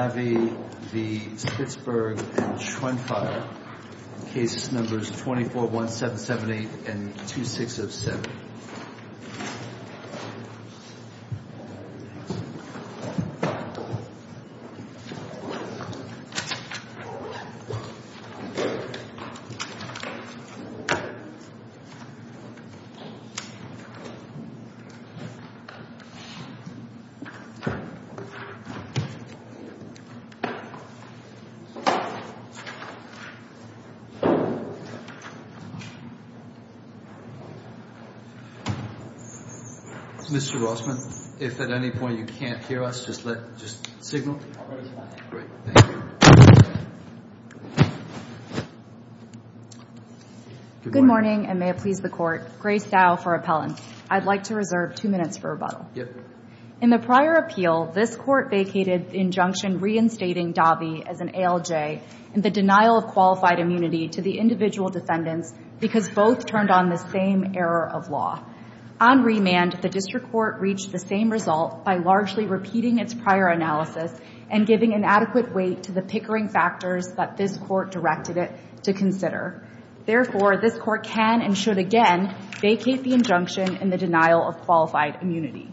Davi v. Spitzberg and Schoenfeuer, case numbers 241778 and 2607. Mr. Rossman, if at any point you can't hear us, just signal. Good morning, and may it please the court. Grace Dow for appellant. I'd like to reserve two minutes for rebuttal. In the prior appeal, this court vacated the injunction reinstating Davi as an ALJ in the denial of qualified immunity to the individual defendants because both turned on the same error of law. On remand, the district court reached the same result by largely repeating its prior analysis and giving an adequate weight to the pickering factors that this court directed it to consider. Therefore, this court can and should again vacate the injunction in the denial of qualified immunity.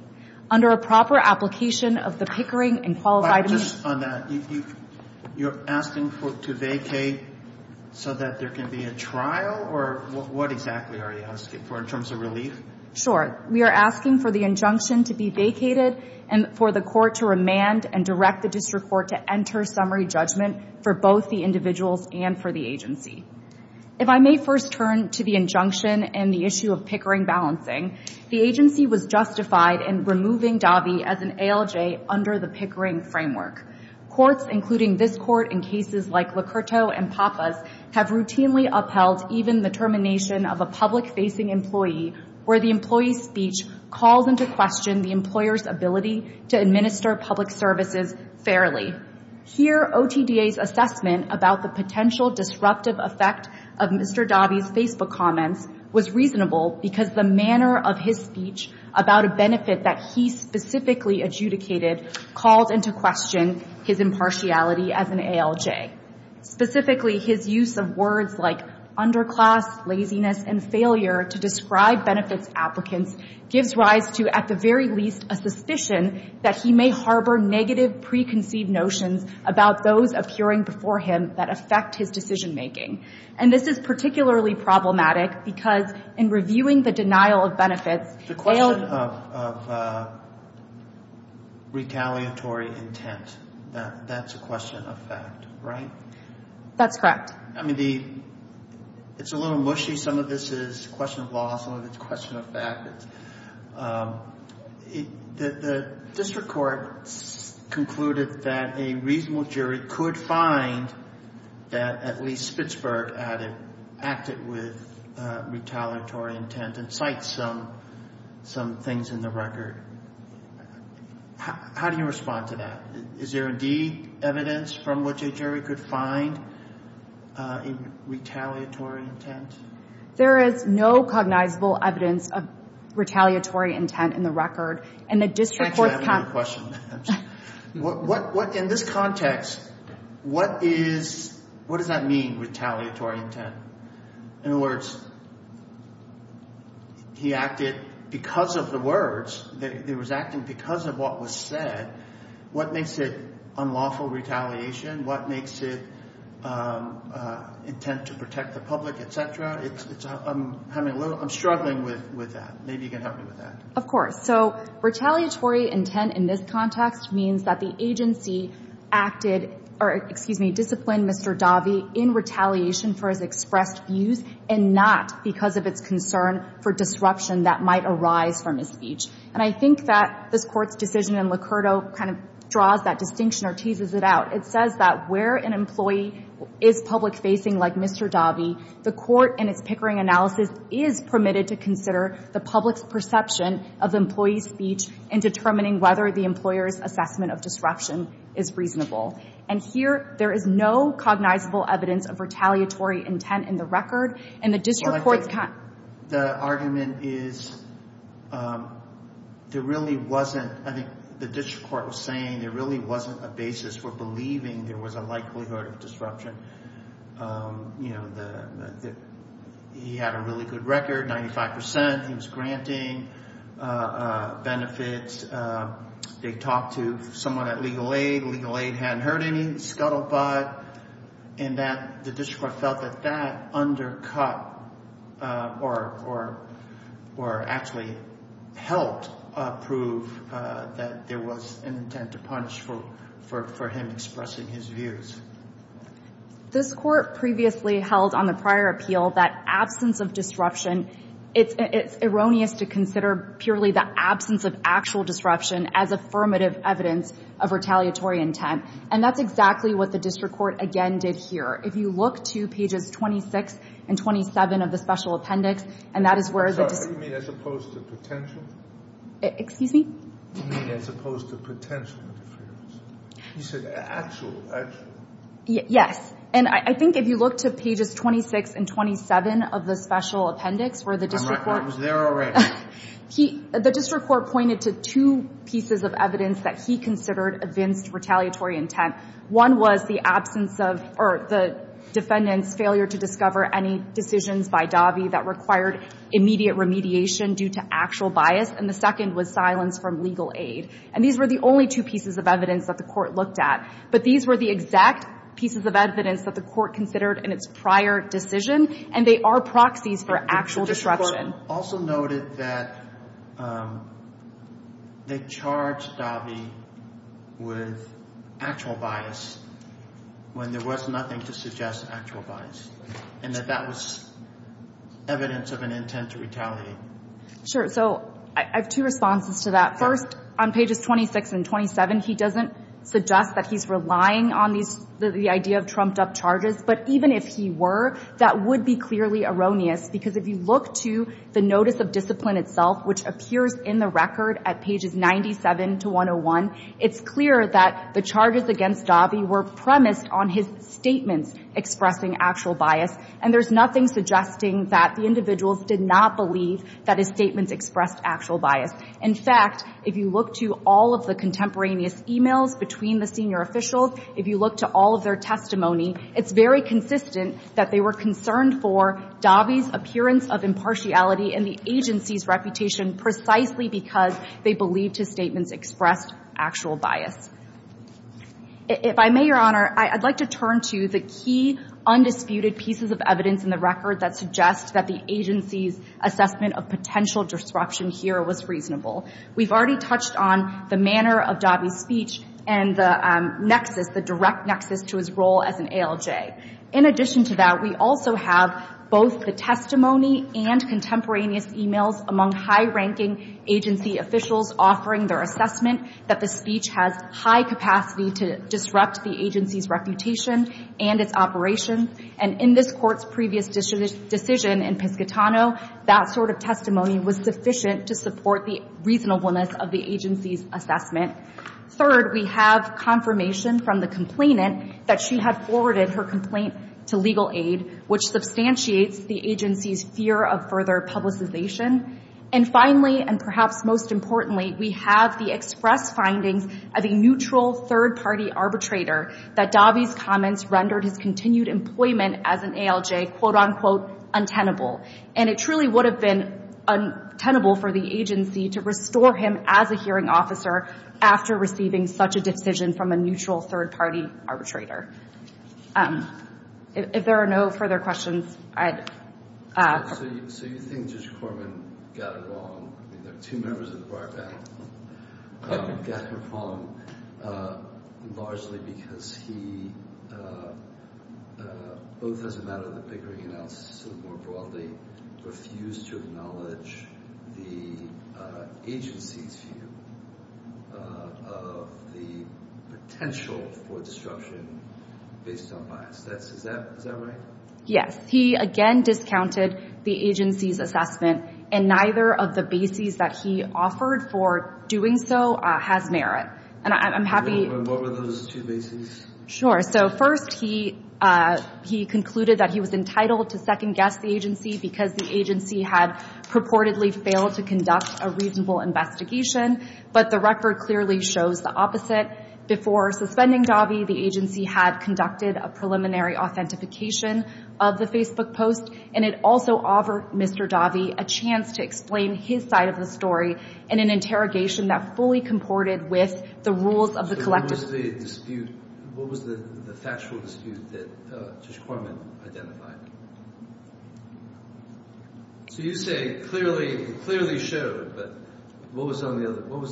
Under a proper application of the pickering and qualified immunity. But just on that, you're asking for it to vacate so that there can be a trial? Or what exactly are you asking for in terms of relief? Sure, we are asking for the injunction to be vacated and for the court to remand and direct the district court to enter summary judgment for both the individuals and for the agency. If I may first turn to the injunction and the issue of pickering balancing, the agency was justified in removing Davi as an ALJ under the pickering framework. Courts, including this court in cases like Locurto and Pappas, have routinely upheld even the termination of a public-facing employee where the employee's speech calls into question the employer's ability to administer public services fairly. Here, OTDA's assessment about the potential disruptive effect of Mr. Davi's Facebook comments was reasonable because the manner of his speech about a benefit that he specifically adjudicated called into question his impartiality as an ALJ. Specifically, his use of words like underclass, laziness, and failure to describe benefits applicants gives rise to, at the very least, a suspicion that he may harbor negative preconceived notions about those appearing before him that affect his decision-making. And this is particularly problematic because in reviewing the denial of benefits, he failed... It's a question of retaliatory intent. That's a question of fact, right? That's correct. I mean, it's a little mushy. Some of this is a question of law. Some of it's a question of fact. The district court concluded that a reasonable jury could find that at least Spitzberg acted with retaliatory intent and cites some things in the record. How do you respond to that? Is there indeed evidence from which a jury could find retaliatory intent? There is no cognizable evidence of retaliatory intent in the record, and the district court's... In this context, what does that mean, retaliatory intent? In other words, he acted because of the words. He was acting because of what was said. What makes it unlawful retaliation? What makes it intent to protect the public, et cetera? I'm struggling with that. Maybe you can help me with that. Of course. So retaliatory intent in this context means that the agency disciplined Mr. Davi in retaliation for his expressed views and not because of its concern for disruption that might arise from his speech. And I think that this court's decision in Licurdo kind of draws that distinction or teases it out. It says that where an employee is public-facing like Mr. Davi, the court in its Pickering analysis is permitted to consider the public's perception of the employee's speech in determining whether the employer's assessment of disruption is reasonable. And here, there is no cognizable evidence of retaliatory intent in the record, and the district court's... The argument is there really wasn't – I think the district court was saying there really wasn't a basis for believing there was a likelihood of disruption. He had a really good record, 95 percent. He was granting benefits. They talked to someone at Legal Aid. Legal Aid hadn't heard any scuttlebutt, and the district court felt that that undercut or actually helped prove that there was an intent to punish for him expressing his views. This court previously held on the prior appeal that absence of disruption – it's erroneous to consider purely the absence of actual disruption as affirmative evidence of retaliatory intent. And that's exactly what the district court again did here. If you look to pages 26 and 27 of the special appendix, and that is where the... I'm sorry. You mean as opposed to potential? Excuse me? You mean as opposed to potential interference? He said actual, actual. Yes. And I think if you look to pages 26 and 27 of the special appendix, where the district court... I'm right. I was there already. The district court pointed to two pieces of evidence that he considered evinced retaliatory intent. One was the absence of – or the defendant's failure to discover any decisions by Davi that required immediate remediation due to actual bias. And the second was silence from legal aid. And these were the only two pieces of evidence that the court looked at. But these were the exact pieces of evidence that the court considered in its prior decision, and they are proxies for actual disruption. The district court also noted that they charged Davi with actual bias when there was nothing to suggest actual bias. And that that was evidence of an intent to retaliate. Sure. So I have two responses to that. First, on pages 26 and 27, he doesn't suggest that he's relying on the idea of trumped-up charges. But even if he were, that would be clearly erroneous. Because if you look to the notice of discipline itself, which appears in the record at pages 97 to 101, it's clear that the charges against Davi were premised on his statements expressing actual bias. And there's nothing suggesting that the individuals did not believe that his statements expressed actual bias. In fact, if you look to all of the contemporaneous e-mails between the senior officials, if you look to all of their testimony, it's very consistent that they were concerned for Davi's appearance of impartiality and the agency's reputation precisely because they believed his statements expressed actual bias. If I may, Your Honor, I'd like to turn to the key undisputed pieces of evidence in the record that suggest that the agency's assessment of potential disruption here was reasonable. We've already touched on the manner of Davi's speech and the nexus, the direct nexus to his role as an ALJ. In addition to that, we also have both the testimony and contemporaneous e-mails among high-ranking agency officials offering their assessment that the speech has high capacity to disrupt the agency's reputation and its operation. And in this Court's previous decision in Piscitano, that sort of testimony was sufficient to support the reasonableness of the agency's assessment. Third, we have confirmation from the complainant that she had forwarded her complaint to legal aid, which substantiates the agency's fear of further publicization. And finally, and perhaps most importantly, we have the express findings of a neutral third-party arbitrator that Davi's comments rendered his continued employment as an ALJ, quote-unquote, untenable. And it truly would have been untenable for the agency to restore him as a hearing officer after receiving such a decision from a neutral third-party arbitrator. If there are no further questions, I'd... So you think Judge Corman got it wrong. I mean, there are two members of the bar battle. Got it wrong largely because he, both as a matter of the Pickering analysis and more broadly, refused to acknowledge the agency's view of the potential for disruption based on bias. Is that right? Yes. He again discounted the agency's assessment, and neither of the bases that he offered for doing so has merit. And I'm happy... And what were those two bases? Sure. So first, he concluded that he was entitled to second-guess the agency because the agency had purportedly failed to conduct a reasonable investigation, but the record clearly shows the opposite. Before suspending Dahvie, the agency had conducted a preliminary authentication of the Facebook post, and it also offered Mr. Dahvie a chance to explain his side of the story in an interrogation that fully comported with the rules of the collective... So what was the dispute? What was the factual dispute that Judge Corman identified? So you say clearly showed, but what was the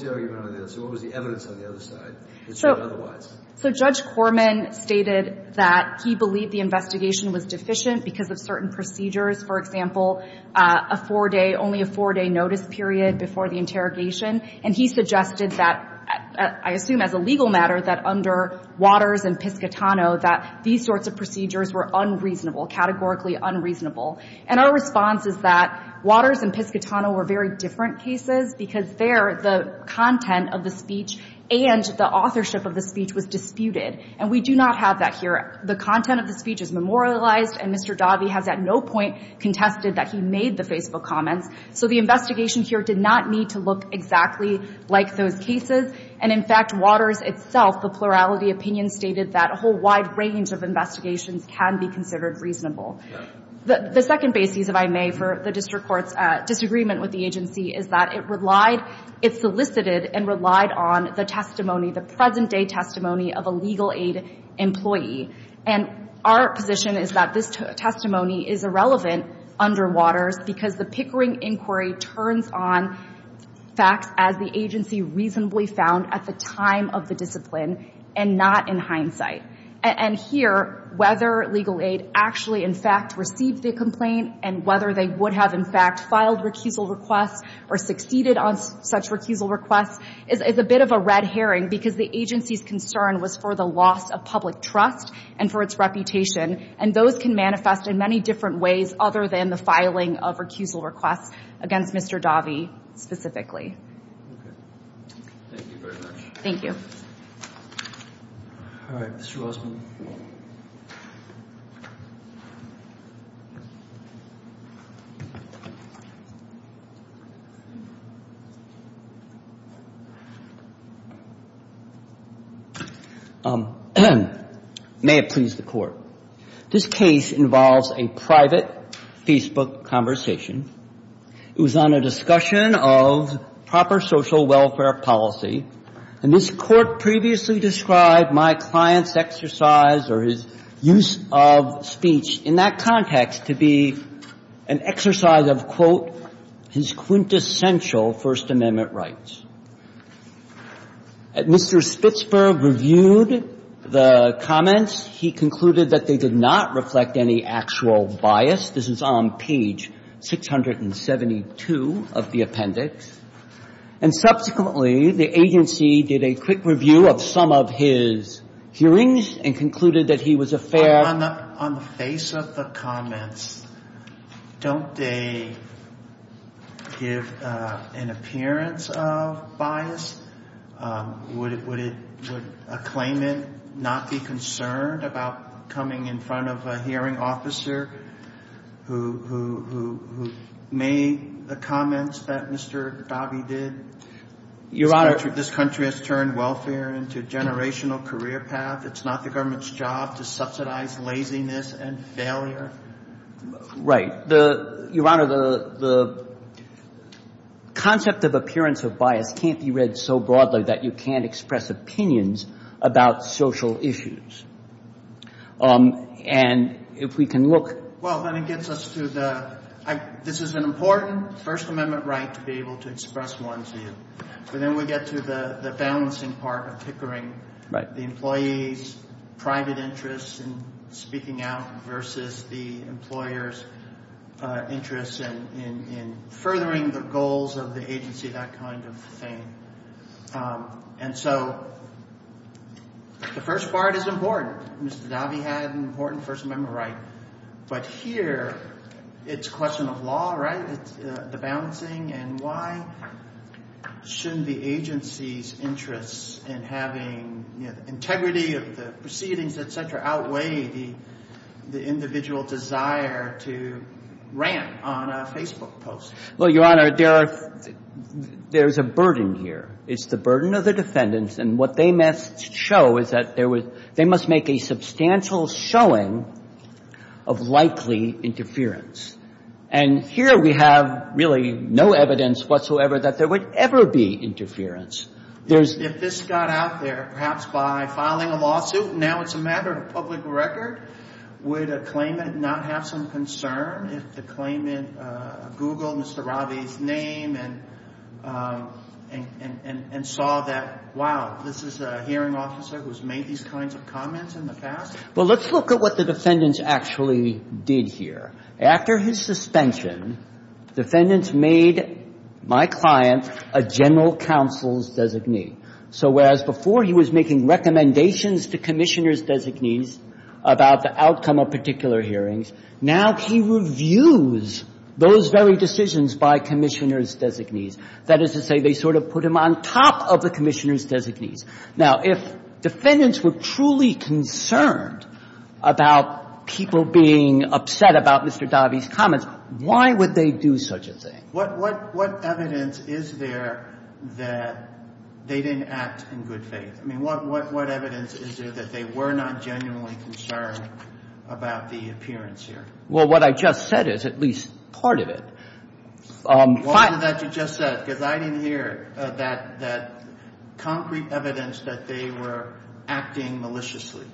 argument on this? What was the evidence on the other side that showed otherwise? So Judge Corman stated that he believed the investigation was deficient because of certain procedures, for example, a four-day, only a four-day notice period before the interrogation, and he suggested that, I assume as a legal matter, that under Waters and Piscitano, that these sorts of procedures were unreasonable, categorically unreasonable. And our response is that Waters and Piscitano were very different cases because there the content of the speech and the authorship of the speech was disputed. And we do not have that here. The content of the speech is memorialized, and Mr. Dahvie has at no point contested that he made the Facebook comments. So the investigation here did not need to look exactly like those cases. And, in fact, Waters itself, the plurality opinion, stated that a whole wide range of investigations can be considered reasonable. The second basis, if I may, for the district court's disagreement with the agency is that it relied, it solicited and relied on the testimony, the present-day testimony of a legal aid employee. And our position is that this testimony is irrelevant under Waters because the Pickering inquiry turns on facts as the agency reasonably found at the time of the discipline and not in hindsight. And here, whether legal aid actually, in fact, received the complaint and whether they would have, in fact, filed recusal requests or succeeded on such recusal requests is a bit of a red herring because the agency's concern was for the loss of public trust and for its reputation. And those can manifest in many different ways other than the filing of recusal requests against Mr. Dahvie specifically. Thank you very much. Thank you. All right. Mr. Rosman. May it please the Court. This case involves a private Facebook conversation. It was on a discussion of proper social welfare policy. And this Court previously described my client's exercise or his use of speech in that context to be an exercise of, quote, his quintessential First Amendment rights. Mr. Spitzberg reviewed the comments. He concluded that they did not reflect any actual bias. This is on page 672 of the appendix. And subsequently, the agency did a quick review of some of his hearings and concluded that he was a fair ---- On the face of the comments, don't they give an appearance of bias? Would a claimant not be concerned about coming in front of a hearing officer who made the comments that Mr. Dahvie did? Your Honor. This country has turned welfare into a generational career path. It's not the government's job to subsidize laziness and failure. Right. Your Honor, the concept of appearance of bias can't be read so broadly that you can't express opinions about social issues. And if we can look ---- Well, then it gets us to the ---- This is an important First Amendment right to be able to express one's view. But then we get to the balancing part of tickering. Right. The employee's private interest in speaking out versus the employer's interest in furthering the goals of the agency, that kind of thing. And so the first part is important. Mr. Dahvie had an important First Amendment right. But here it's a question of law, right, the balancing, and why shouldn't the agency's interest in having integrity of the proceedings, et cetera, outweigh the individual desire to rant on a Facebook post? Well, Your Honor, there's a burden here. It's the burden of the defendants, and what they must show is that they must make a substantial showing of likely interference. And here we have really no evidence whatsoever that there would ever be interference. If this got out there perhaps by filing a lawsuit and now it's a matter of public record, would a claimant not have some concern if the claimant Googled Mr. Dahvie's name and saw that, wow, this is a hearing officer who's made these kinds of comments in the past? Well, let's look at what the defendants actually did here. After his suspension, defendants made my client a general counsel's designee. So whereas before he was making recommendations to commissioners' designees about the outcome of particular hearings, now he reviews those very decisions by commissioners' designees. That is to say they sort of put him on top of the commissioners' designees. Now, if defendants were truly concerned about people being upset about Mr. Dahvie's comments, why would they do such a thing? What evidence is there that they didn't act in good faith? I mean, what evidence is there that they were not genuinely concerned about the appearance here? Well, what I just said is at least part of it. Why is that what you just said? Because I didn't hear that concrete evidence that they were acting maliciously.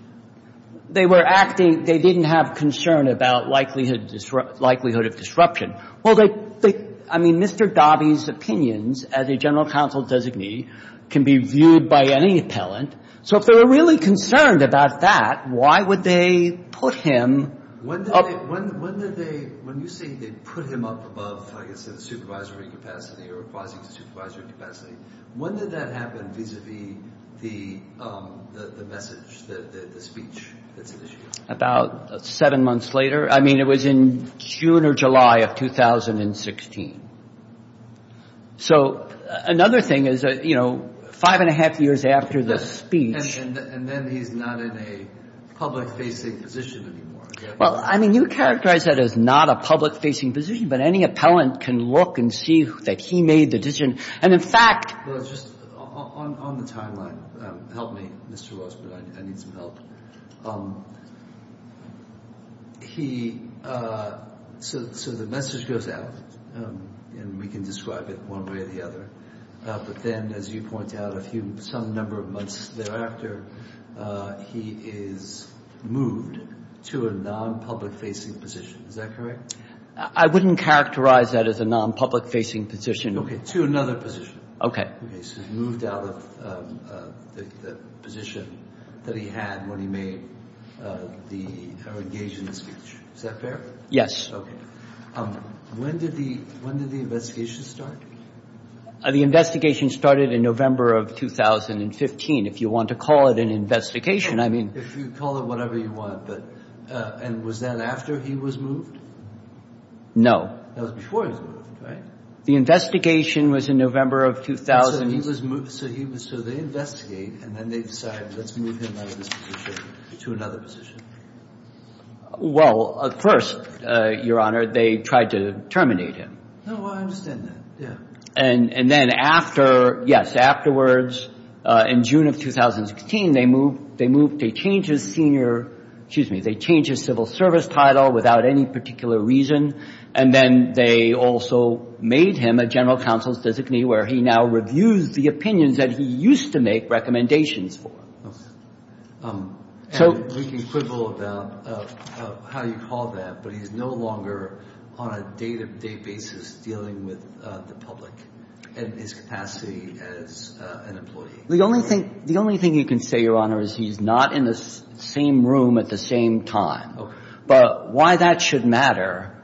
They were acting. They didn't have concern about likelihood of disruption. Well, they, I mean, Mr. Dahvie's opinions as a general counsel's designee can be viewed by any appellant. So if they were really concerned about that, why would they put him up? When did they, when did they, when you say they put him up above, I guess, the supervisory capacity or requires a supervisory capacity, when did that happen vis-à-vis the message, the speech that's initiated? About seven months later. I mean, it was in June or July of 2016. So another thing is, you know, five and a half years after the speech. And then he's not in a public-facing position anymore. Well, I mean, you characterize that as not a public-facing position, but any appellant can look and see that he made the decision. And in fact. Well, just on the timeline, help me, Mr. Ross, but I need some help. He, so the message goes out, and we can describe it one way or the other. But then, as you point out, a few, some number of months thereafter, he is moved to a non-public-facing position. Is that correct? I wouldn't characterize that as a non-public-facing position. Okay. To another position. Okay. Okay, so he moved out of the position that he had when he made the engagement speech. Is that fair? Yes. Okay. When did the investigation start? The investigation started in November of 2015. If you want to call it an investigation, I mean. If you call it whatever you want. And was that after he was moved? No. That was before he was moved, right? The investigation was in November of 2000. So he was moved, so they investigate, and then they decide, let's move him out of this position to another position. Well, first, Your Honor, they tried to terminate him. No, I understand that, yeah. And then after, yes, afterwards, in June of 2016, they moved, they changed his senior, excuse me, they changed his civil service title without any particular reason. And then they also made him a general counsel's designee, where he now reviews the opinions that he used to make recommendations for. Okay. And making quibble about how you call that, but he's no longer on a day-to-day basis dealing with the public in his capacity as an employee. The only thing you can say, Your Honor, is he's not in the same room at the same time. Okay. But why that should matter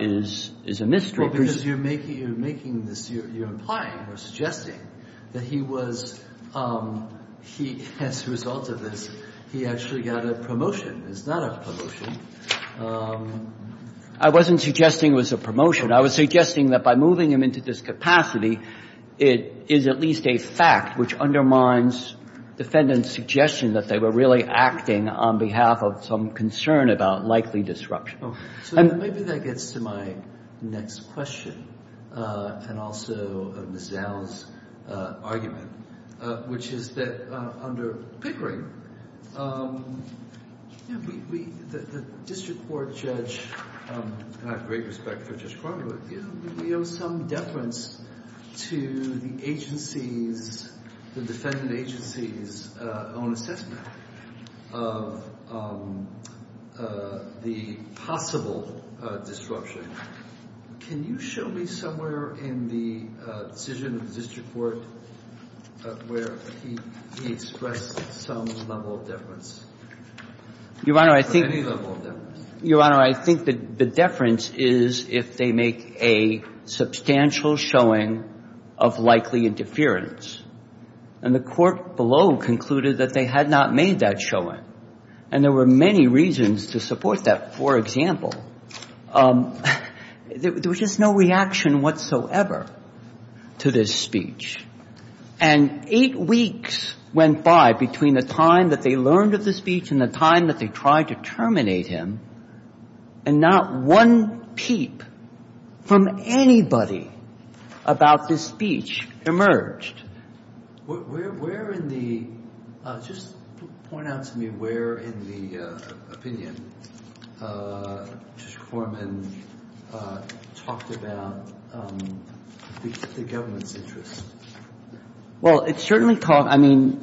is a mystery. Well, because you're making this, you're implying or suggesting that he was, he, as a result of this, he actually got a promotion. It's not a promotion. I wasn't suggesting it was a promotion. I was suggesting that by moving him into this capacity, it is at least a fact which undermines defendant's suggestion that they were really acting on behalf of some concern about likely disruption. So maybe that gets to my next question, and also Ms. Zell's argument, which is that under Pickering, the district court judge, and I have great respect for Judge Cronenberg, we owe some deference to the agency's, the defendant agency's, own assessment of the possible disruption. Can you show me somewhere in the decision of the district court where he expressed some level of deference, or any level of deference? Your Honor, I think the deference is if they make a substantial showing of likely interference. And the court below concluded that they had not made that showing. And there were many reasons to support that. For example, there was just no reaction whatsoever to this speech. And eight weeks went by between the time that they learned of the speech and the time that they tried to terminate him, and not one peep from anybody about this speech emerged. Where in the, just point out to me where in the opinion Judge Corman talked about the government's interest. Well, it certainly, I mean,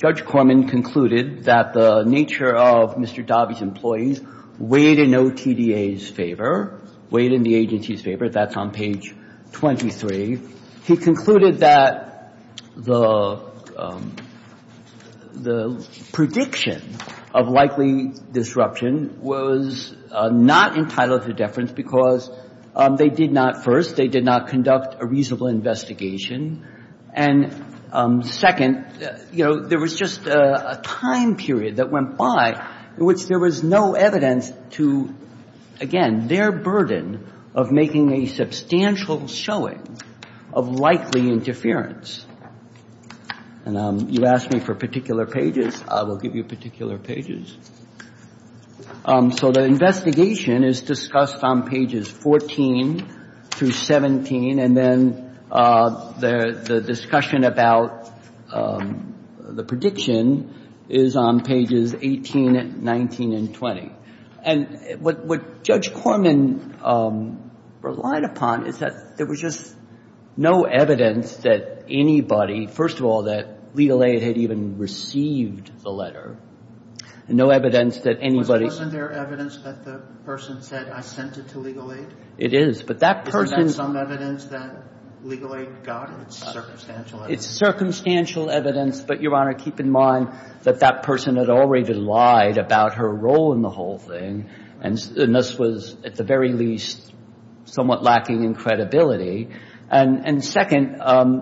Judge Corman concluded that the nature of Mr. Daube's employees weighed in OTDA's favor, weighed in the agency's favor. That's on page 23. He concluded that the prediction of likely disruption was not entitled to deference because they did not, first, they did not conduct a reasonable investigation. And second, you know, there was just a time period that went by in which there was no evidence to, again, their burden of making a substantial showing of likely interference. And you asked me for particular pages. I will give you particular pages. So the investigation is discussed on pages 14 through 17, and then the discussion about the prediction is on pages 18, 19, and 20. And what Judge Corman relied upon is that there was just no evidence that anybody, first of all, that legal aid had even received the letter, and no evidence that anybody. Wasn't there evidence that the person said, I sent it to legal aid? It is, but that person. Isn't that some evidence that legal aid got? It's circumstantial evidence. But, Your Honor, keep in mind that that person had already lied about her role in the whole thing. And this was, at the very least, somewhat lacking in credibility. And second,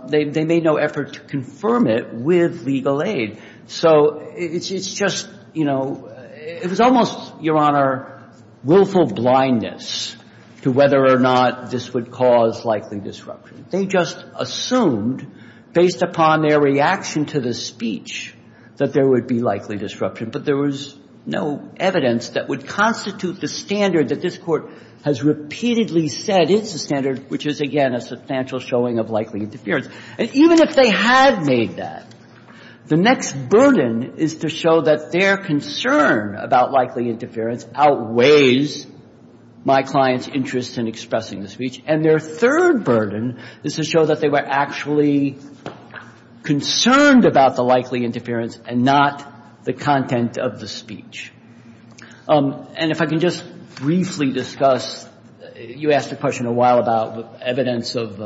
they made no effort to confirm it with legal aid. So it's just, you know, it was almost, Your Honor, willful blindness to whether or not this would cause likely disruption. They just assumed, based upon their reaction to the speech, that there would be likely disruption. But there was no evidence that would constitute the standard that this Court has repeatedly said is the standard, which is, again, a substantial showing of likely interference. And even if they had made that, the next burden is to show that their concern about likely interference outweighs my client's interest in expressing the speech. And their third burden is to show that they were actually concerned about the likely interference and not the content of the speech. And if I can just briefly discuss, you asked a question a while about evidence of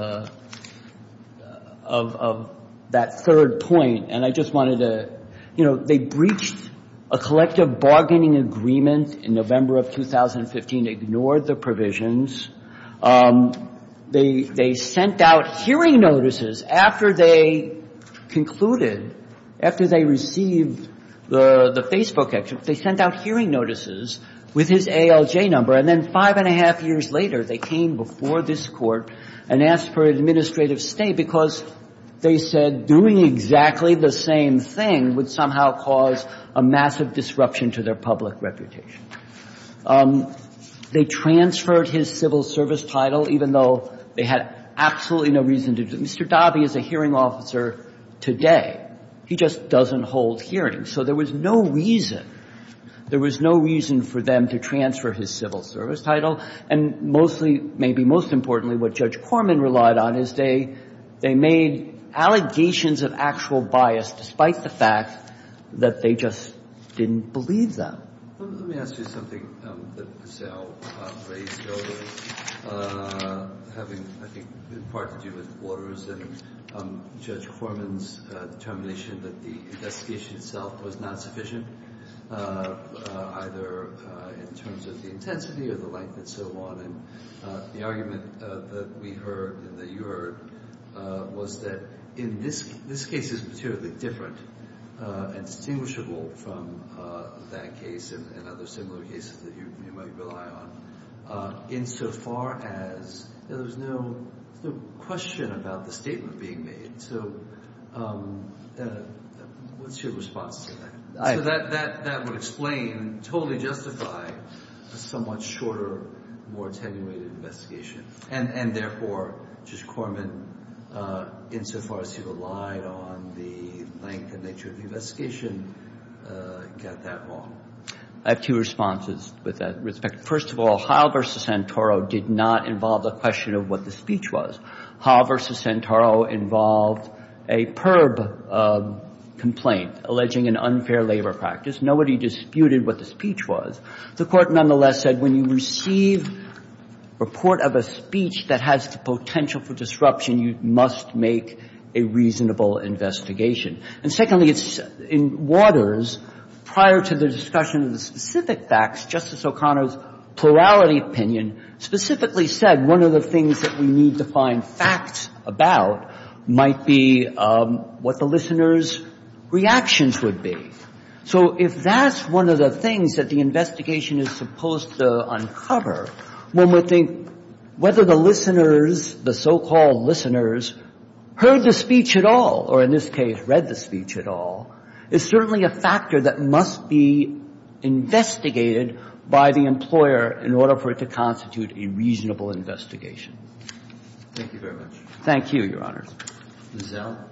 that third point. And I just wanted to, you know, they breached a collective bargaining agreement in November of 2015, ignored the provisions. They sent out hearing notices after they concluded, after they received the Facebook exit. They sent out hearing notices with his ALJ number. And then five and a half years later, they came before this Court and asked for an administrative stay because they said doing exactly the same thing would somehow cause a massive disruption to their public reputation. They transferred his civil service title, even though they had absolutely no reason to do it. Mr. Dobby is a hearing officer today. He just doesn't hold hearings. So there was no reason. There was no reason for them to transfer his civil service title. And mostly, maybe most importantly, what Judge Corman relied on is they made allegations of actual bias despite the fact that they just didn't believe them. Let me ask you something that Giselle raised earlier, having, I think, in part to do with Waters and Judge Corman's determination that the investigation itself was not sufficient, either in terms of the intensity or the length and so on. And the argument that we heard and that you heard was that in this case, it's materially different and distinguishable from that case and other similar cases that you might rely on, insofar as there was no question about the statement being made. So what's your response to that? So that would explain, totally justify, a somewhat shorter, more attenuated investigation. And, therefore, Judge Corman, insofar as he relied on the length and nature of the investigation, got that wrong. I have two responses with that respect. First of all, Howell v. Santoro did not involve the question of what the speech was. Howell v. Santoro involved a PERB complaint alleging an unfair labor practice. Nobody disputed what the speech was. The Court, nonetheless, said when you receive a report of a speech that has the potential for disruption, you must make a reasonable investigation. And, secondly, in Waters, prior to the discussion of the specific facts, Justice O'Connor's plurality opinion specifically said one of the things that we need to find facts about might be what the listeners' reactions would be. So if that's one of the things that the investigation is supposed to uncover, one would think whether the listeners, the so-called listeners, heard the speech at all, or in this case, read the speech at all, is certainly a factor that must be investigated by the employer in order for it to constitute a reasonable investigation. Thank you very much. Thank you, Your Honors. Ms. Zell?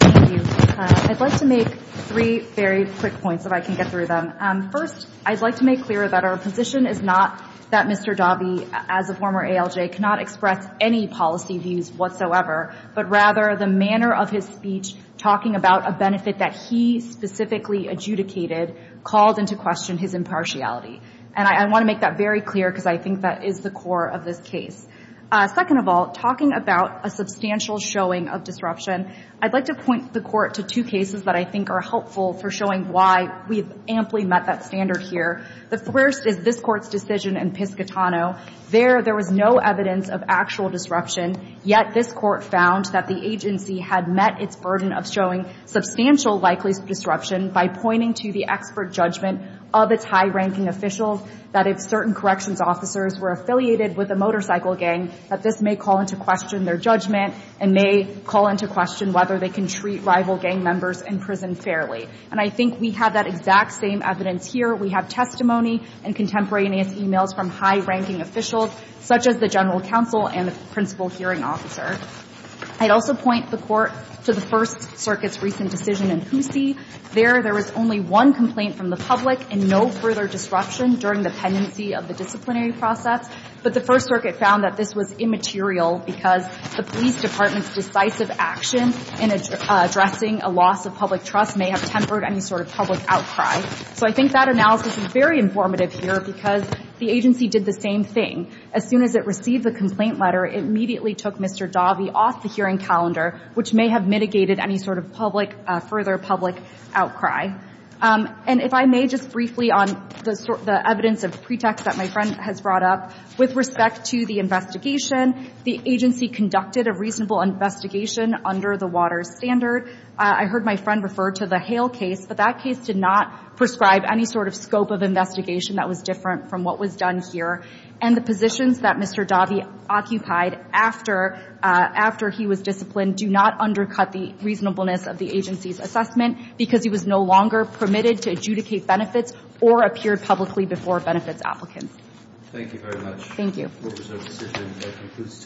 Thank you. I'd like to make three very quick points, if I can get through them. First, I'd like to make clear that our position is not that Mr. Daube, as a former ALJ, cannot express any policy views whatsoever, but rather the manner of his speech talking about a benefit that he specifically adjudicated called into question his impartiality. And I want to make that very clear because I think that is the core of this case. Second of all, talking about a substantial showing of disruption, I'd like to point the Court to two cases that I think are helpful for showing why we've amply met that standard here. The first is this Court's decision in Piscitano. There, there was no evidence of actual disruption, yet this Court found that the agency had met its burden of showing substantial likelihood of disruption by pointing to the expert judgment of its high-ranking officials, that if certain corrections officers were affiliated with a motorcycle gang, that this may call into question their judgment and may call into question whether they can treat rival gang members in prison fairly. And I think we have that exact same evidence here. We have testimony and contemporaneous emails from high-ranking officials, such as the general counsel and the principal hearing officer. I'd also point the Court to the First Circuit's recent decision in Poussey. There, there was only one complaint from the public and no further disruption during the pendency of the disciplinary process. But the First Circuit found that this was immaterial because the police department's decisive action in addressing a loss of public trust may have tempered any sort of public outcry. So I think that analysis is very informative here because the agency did the same thing. As soon as it received the complaint letter, it immediately took Mr. Dahvie off the hearing calendar, which may have mitigated any sort of public, further public outcry. And if I may just briefly on the evidence of pretext that my friend has brought up, with respect to the investigation, the agency conducted a reasonable investigation under the Waters standard. I heard my friend refer to the Hale case, but that case did not prescribe any sort of scope of investigation that was different from what was done here. And the positions that Mr. Dahvie occupied after he was disciplined do not undercut the reasonableness of the agency's assessment because he was no longer permitted to adjudicate benefits or appear publicly before benefits applicants. Thank you very much. Thank you.